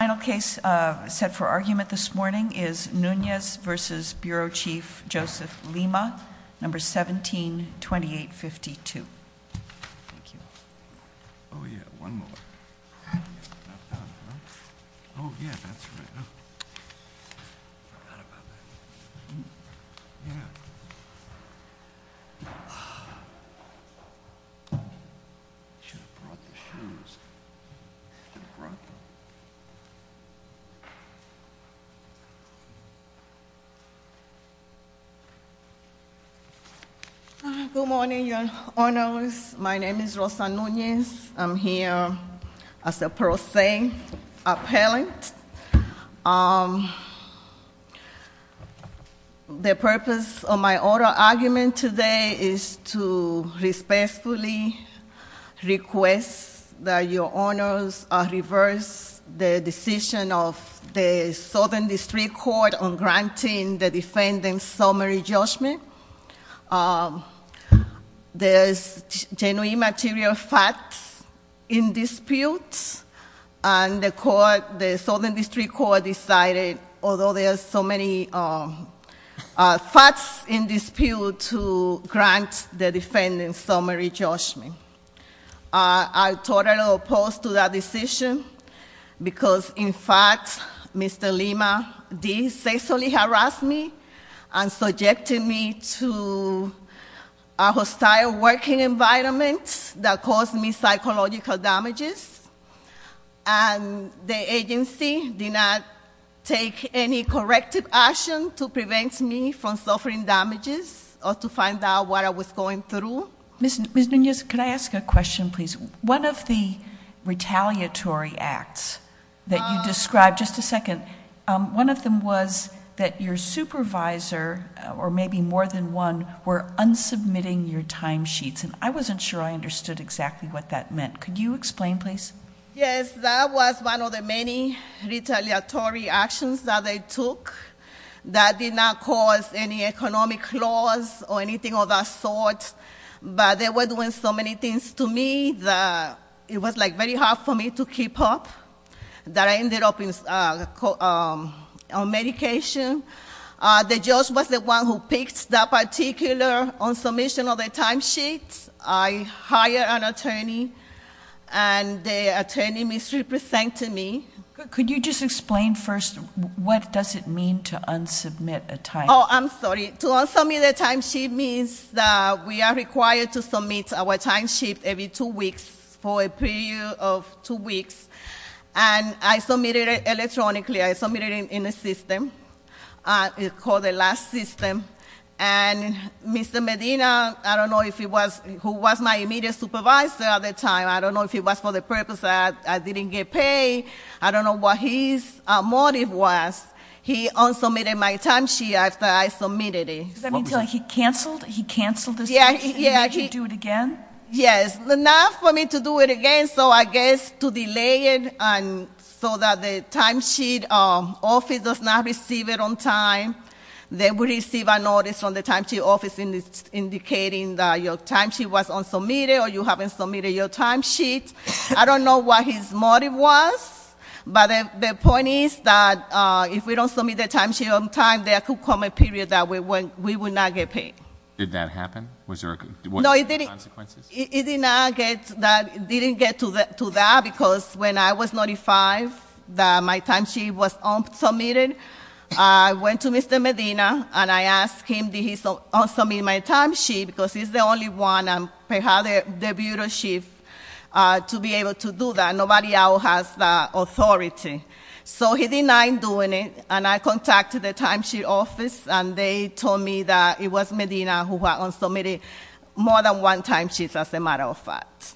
Final case set for argument this morning is Nunez v. Bureau Chief Joseph Lima, No. 17-2852. Good morning, your honors. My name is Rosa Nunez. I'm here as a pro se appellant. The purpose of my oral argument today is to respectfully request that your honors reverse the decision of the Southern District Court on granting the defendant's summary judgment. There's genuine material facts in dispute, and the Southern District Court decided, although there's so many facts in dispute, to grant the defendant's summary judgment. I'm totally opposed to that decision, because in fact, Mr. Lima did sexually harass me and subjected me to a hostile working environment that caused me psychological damages. And the agency did not take any corrective action to prevent me from suffering damages or to find out what I was going through. Ms. Nunez, could I ask a question, please? One of the retaliatory acts that you described, just a second. One of them was that your supervisor, or maybe more than one, were unsubmitting your time sheets. And I wasn't sure I understood exactly what that meant. Could you explain, please? Yes, that was one of the many retaliatory actions that they took that did not cause any economic loss or anything of that sort. But they were doing so many things to me that it was very hard for me to keep up, that I ended up on medication. The judge was the one who picked that particular unsubmission of the time sheet. I hired an attorney, and the attorney misrepresented me. Could you just explain first, what does it mean to unsubmit a time? I'm sorry, to unsubmit a time sheet means that we are required to submit our time sheet every two weeks, for a period of two weeks. And I submitted it electronically, I submitted it in a system, it's called the last system. And Mr. Medina, I don't know if he was, who was my immediate supervisor at the time. I don't know if he was for the purpose that I didn't get paid. I don't know what his motive was. He unsubmitted my time sheet after I submitted it. What was it? Does that mean he canceled this session and made you do it again? Yes, but not for me to do it again. So I guess to delay it so that the time sheet office does not receive it on time. They will receive a notice from the time sheet office indicating that your time sheet was unsubmitted, or you haven't submitted your time sheet. I don't know what his motive was. But the point is that if we don't submit the time sheet on time, there could come a period that we would not get paid. Did that happen? Was there a, what were the consequences? It did not get, it didn't get to that, because when I was notified that my time sheet was unsubmitted, I went to Mr. Medina and I asked him, did he unsubmit my time sheet? Because he's the only one, and I have the bureau chief to be able to do that. Nobody else has the authority. So he denied doing it, and I contacted the time sheet office, and they told me that it was Medina who had unsubmitted more than one time sheet, as a matter of fact.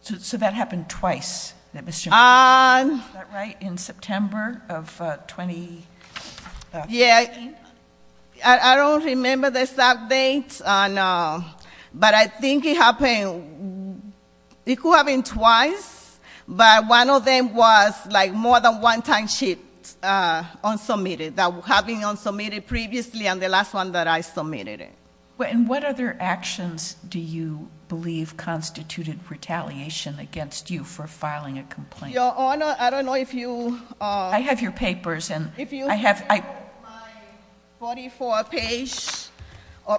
So that happened twice, that Mr. Medina, is that right? In September of 2018? Yeah, I don't remember the exact date, but I think it happened, it could have been twice. But one of them was more than one time sheet unsubmitted, that having unsubmitted previously, and the last one that I submitted it. And what other actions do you believe constituted retaliation against you for filing a complaint? Your Honor, I don't know if you- I have your papers, and I have- If you have my 44 page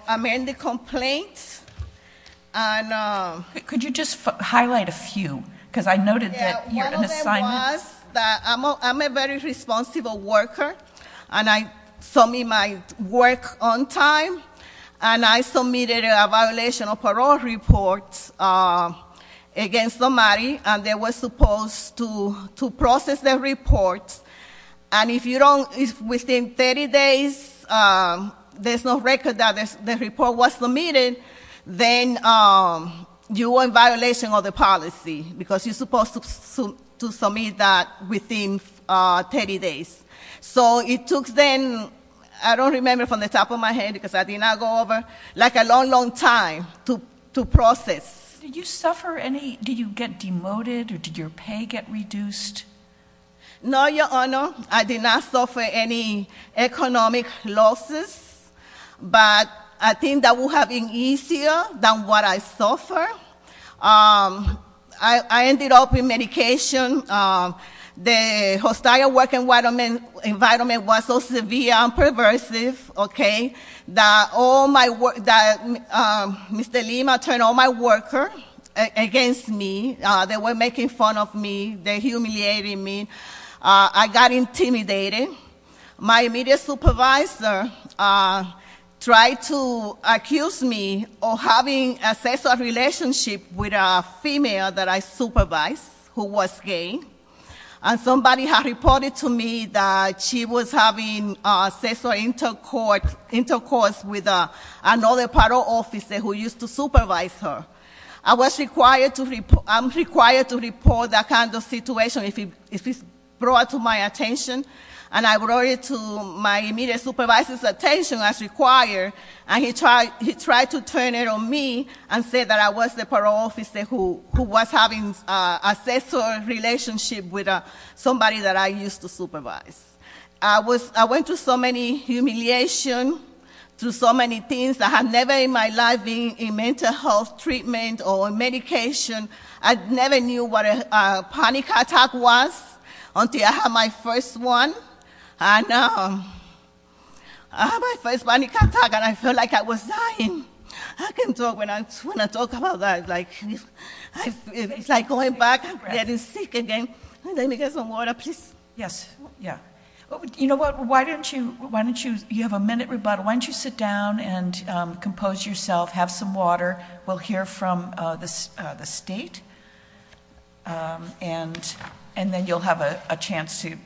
amended complaint, and- Could you just highlight a few, because I noted that you're an assignment- Yeah, one of them was that I'm a very responsible worker, and I submit my work on time. And I submitted a violation of parole report against somebody, and they were supposed to process their report. And if within 30 days, there's no record that the report was submitted, then you are in violation of the policy, because you're supposed to submit that within 30 days. So it took them, I don't remember from the top of my head, because I did not go over, like a long, long time to process. Did you suffer any, did you get demoted, or did your pay get reduced? No, Your Honor, I did not suffer any economic losses, but I think that would have been easier than what I suffered. I ended up in medication. The hostile working environment was so severe and perversive, okay? That Mr. Lima turned all my workers against me. They were making fun of me, they humiliated me, I got intimidated. My immediate supervisor tried to accuse me of having a sexual relationship with a female that I supervised, who was gay. And somebody had reported to me that she was having sexual intercourse with another parole officer who used to supervise her. I'm required to report that kind of situation if it's brought to my attention. And I brought it to my immediate supervisor's attention as required, and he tried to turn it on me and said that I was the parole officer who was having a sexual relationship with somebody that I used to supervise. I went through so many humiliation, through so many things that have never in my life been in mental health treatment or medication. I never knew what a panic attack was until I had my first one. And I had my first panic attack and I felt like I was dying. I can talk when I talk about that, it's like going back and getting sick again. Let me get some water, please. Yes, yeah. You know what, why don't you, you have a minute rebuttal. Why don't you sit down and compose yourself, have some water. We'll hear from the state, and then you'll have a chance to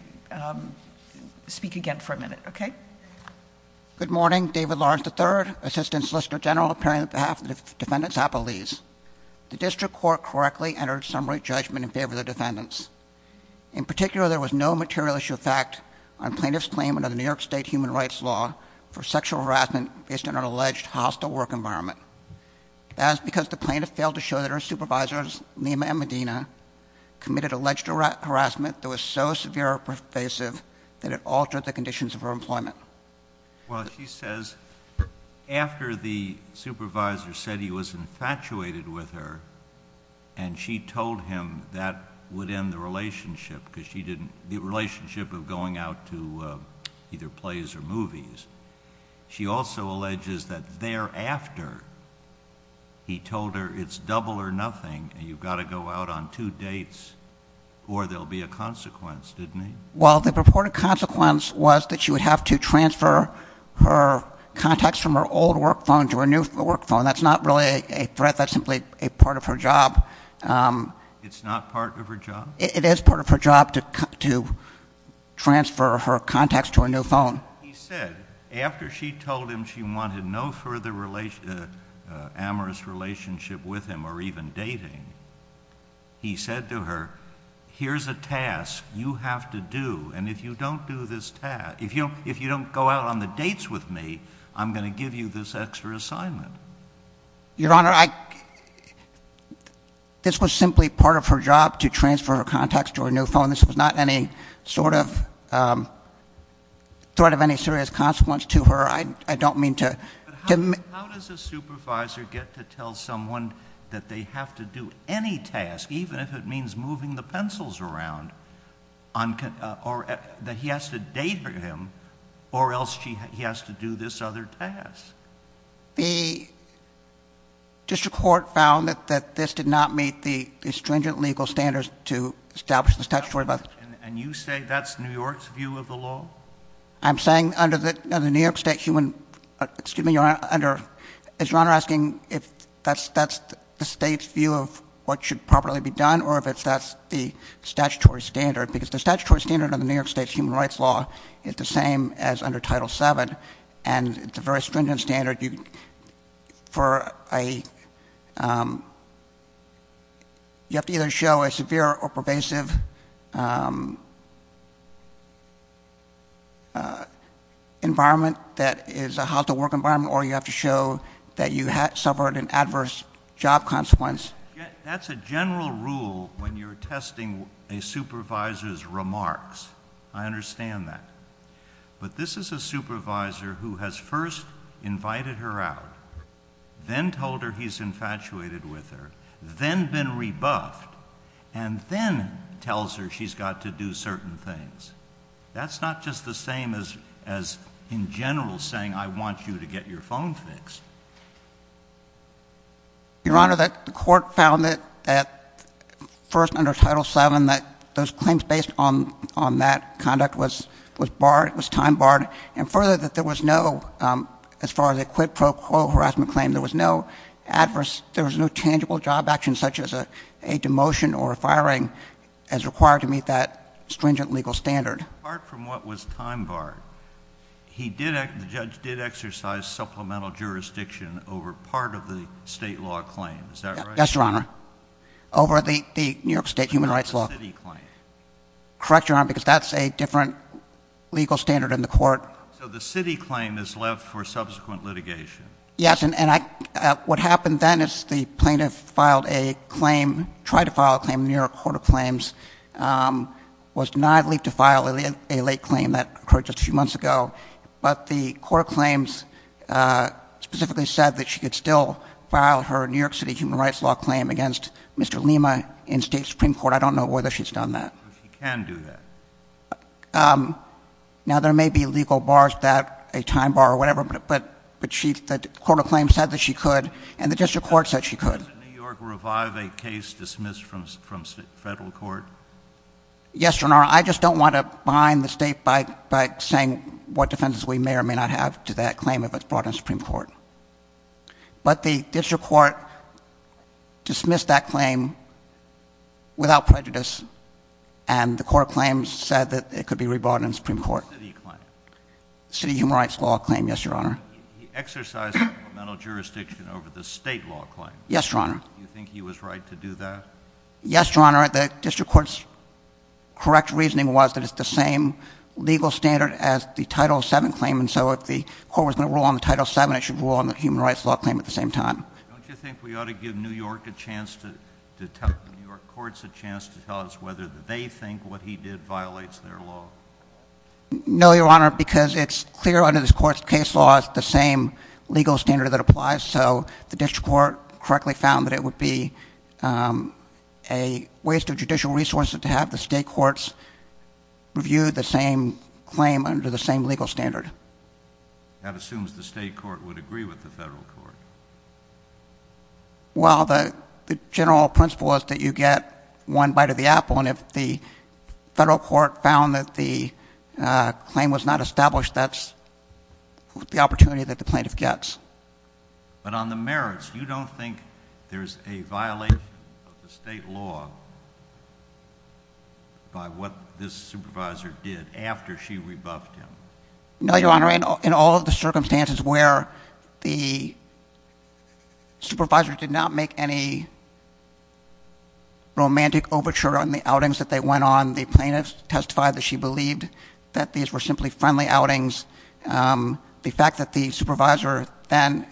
speak again for a minute, okay? Good morning, David Lawrence III, Assistant Solicitor General, appearing on behalf of the Defendant's Appellees. The district court correctly entered summary judgment in favor of the defendants. In particular, there was no material issue of fact on plaintiff's claim under the New York State human rights law for sexual harassment based on an alleged hostile work environment. That is because the plaintiff failed to show that her supervisors, Lima and Medina, committed alleged harassment that was so severe or pervasive that it altered the conditions of her employment. Well, she says, after the supervisor said he was infatuated with her, and she told him that would end the relationship, because she didn't, the relationship of going out to either plays or movies. She also alleges that thereafter, he told her it's double or two dates, or there'll be a consequence, didn't he? Well, the purported consequence was that she would have to transfer her contacts from her old work phone to her new work phone. That's not really a threat, that's simply a part of her job. It's not part of her job? It is part of her job to transfer her contacts to her new phone. He said, after she told him she wanted no further amorous relationship with him or even dating, he said to her, here's a task you have to do. And if you don't do this task, if you don't go out on the dates with me, I'm going to give you this extra assignment. Your Honor, this was simply part of her job to transfer her contacts to her new phone. This was not any sort of any serious consequence to her. I don't mean to- How does a supervisor get to tell someone that they have to do any task, even if it means moving the pencils around, or that he has to date him, or else he has to do this other task? The district court found that this did not meet the stringent legal standards to establish this statutory- And you say that's New York's view of the law? I'm saying under the New York State human, excuse me, is your Honor asking if that's the state's view of what should properly be done, or if that's the statutory standard, because the statutory standard of the New York State's human rights law is the same as under Title VII. And it's a very stringent standard. You have to either show a severe or a environment that is a how to work environment, or you have to show that you suffered an adverse job consequence. That's a general rule when you're testing a supervisor's remarks. I understand that. But this is a supervisor who has first invited her out, then told her he's infatuated with her, then been rebuffed, and then tells her she's got to do certain things. That's not just the same as in general saying I want you to get your phone fixed. Your Honor, the court found that first under Title VII that those claims based on that conduct was time barred. And further, that there was no, as far as a quid pro quo harassment claim, there was no tangible job action such as a demotion or a standard. Apart from what was time barred, the judge did exercise supplemental jurisdiction over part of the state law claim, is that right? Yes, Your Honor. Over the New York State human rights law. The city claim. Correct, Your Honor, because that's a different legal standard in the court. So the city claim is left for subsequent litigation. Yes, and what happened then is the plaintiff filed a claim, tried to file a claim in the New York Court of Claims, was denied leave to file a late claim that occurred just a few months ago. But the court of claims specifically said that she could still file her New York City human rights law claim against Mr. Lima in state supreme court. I don't know whether she's done that. She can do that. Now there may be legal bars that a time bar or whatever, but the court of claims said that she could and the district court said she could. Does New York revive a case dismissed from federal court? Yes, Your Honor, I just don't want to bind the state by saying what defenses we may or may not have to that claim if it's brought in supreme court. But the district court dismissed that claim without prejudice. And the court claims said that it could be re-brought in supreme court. City claim. City human rights law claim, yes, Your Honor. He exercised supplemental jurisdiction over the state law claim. Do you think he was right to do that? Yes, Your Honor, the district court's correct reasoning was that it's the same legal standard as the title seven claim. And so if the court was going to rule on the title seven, it should rule on the human rights law claim at the same time. Don't you think we ought to give New York a chance to tell, New York courts a chance to tell us whether they think what he did violates their law? No, Your Honor, because it's clear under this court's case law, it's the same legal standard that applies. So the district court correctly found that it would be a waste of judicial resources to have the state courts review the same claim under the same legal standard. That assumes the state court would agree with the federal court. Well, the general principle is that you get one bite of the apple, and if the federal court found that the claim was not established, that's the opportunity that the plaintiff gets. But on the merits, you don't think there's a violation of the state law by what this supervisor did after she rebuffed him? No, Your Honor, in all of the circumstances where the supervisor did not make any romantic overture on the outings that they went on, the plaintiff testified that she believed that these were simply friendly outings. The fact that the supervisor then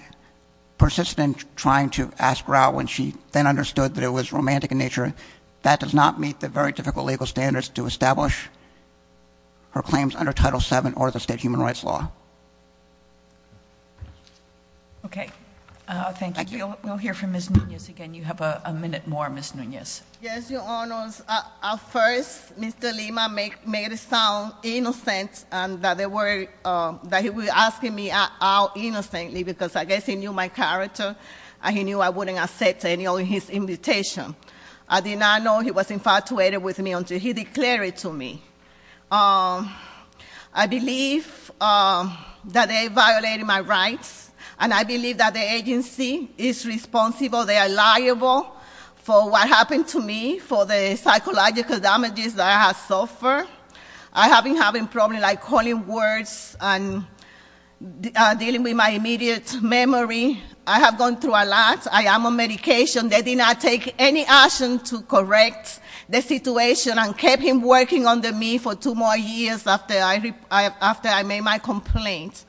persisted in trying to ask her out when she then understood that it was romantic in nature, that does not meet the very difficult legal standards to establish her claims under Title VII or the state human rights law. Okay, thank you. We'll hear from Ms. Nunez again. You have a minute more, Ms. Nunez. Yes, Your Honors. At first, Mr. Lima made it sound innocent and that he was asking me out innocently because I guess he knew my character and he knew I wouldn't accept any of his invitation. I did not know he was infatuated with me until he declared it to me. I believe that they violated my rights, and I believe that the agency is responsible. They are liable for what happened to me, for the psychological damages that I have suffered. I have been having problems like calling words and dealing with my immediate memory. I have gone through a lot. I am on medication. They did not take any action to correct the situation and kept him working under me for two more years after I made my complaint.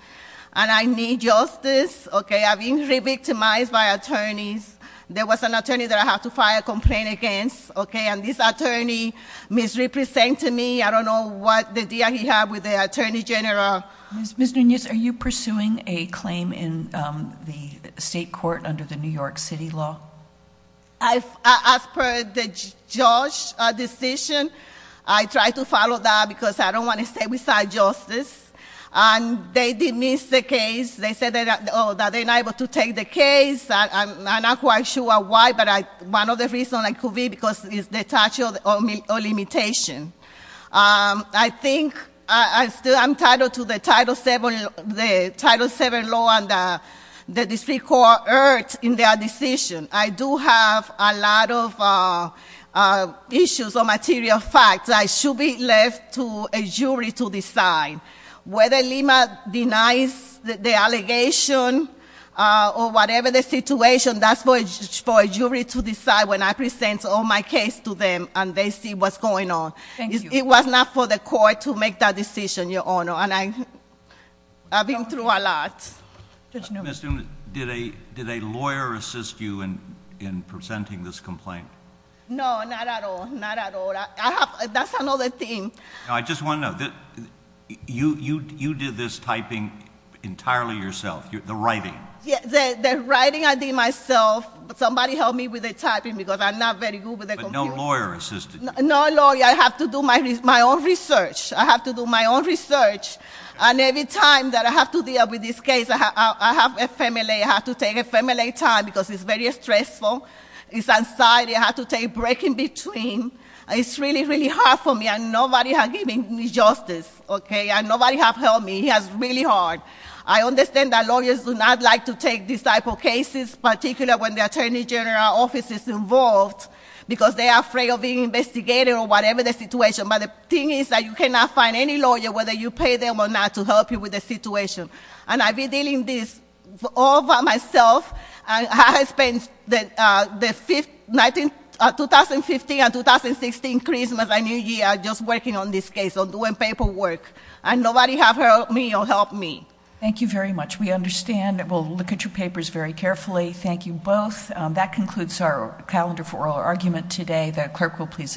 And I need justice, okay? I've been re-victimized by attorneys. There was an attorney that I had to file a complaint against, okay? And this attorney misrepresented me. I don't know what the deal he had with the Attorney General. Ms. Nunez, are you pursuing a claim in the state court under the New York City law? As per the judge decision, I tried to follow that because I don't want to stay beside justice. And they did miss the case. They said that they're not able to take the case. I'm not quite sure why, but one of the reasons it could be because it's the statute or limitation. I think I'm entitled to the Title VII law and the district court heard in their decision. I do have a lot of issues or material facts. I should be left to a jury to decide whether Lima denies the allegation or whatever the situation. That's for a jury to decide when I present all my case to them and they see what's going on. It was not for the court to make that decision, Your Honor, and I've been through a lot. Judge Nunez. Did a lawyer assist you in presenting this complaint? No, not at all, not at all. That's another thing. I just want to know, you did this typing entirely yourself, the writing? Yeah, the writing I did myself, but somebody helped me with the typing because I'm not very good with the computer. But no lawyer assisted you? No lawyer, I have to do my own research. I have to do my own research. And every time that I have to deal with this case, I have to take a family time because it's very stressful. It's anxiety, I have to take break in between. It's really, really hard for me and nobody has given me justice, okay? And nobody has helped me, it's really hard. I understand that lawyers do not like to take this type of cases, particularly when the attorney general office is involved. Because they are afraid of being investigated or whatever the situation. But the thing is that you cannot find any lawyer whether you pay them or not to help you with the situation. And I've been dealing this all by myself. And I have spent the 2015 and 2016 Christmas and New Year just working on this case, on doing paperwork. And nobody have helped me or helped me. Thank you very much. We understand and we'll look at your papers very carefully. Thank you both. That concludes our calendar for oral argument today. The clerk will please adjourn court.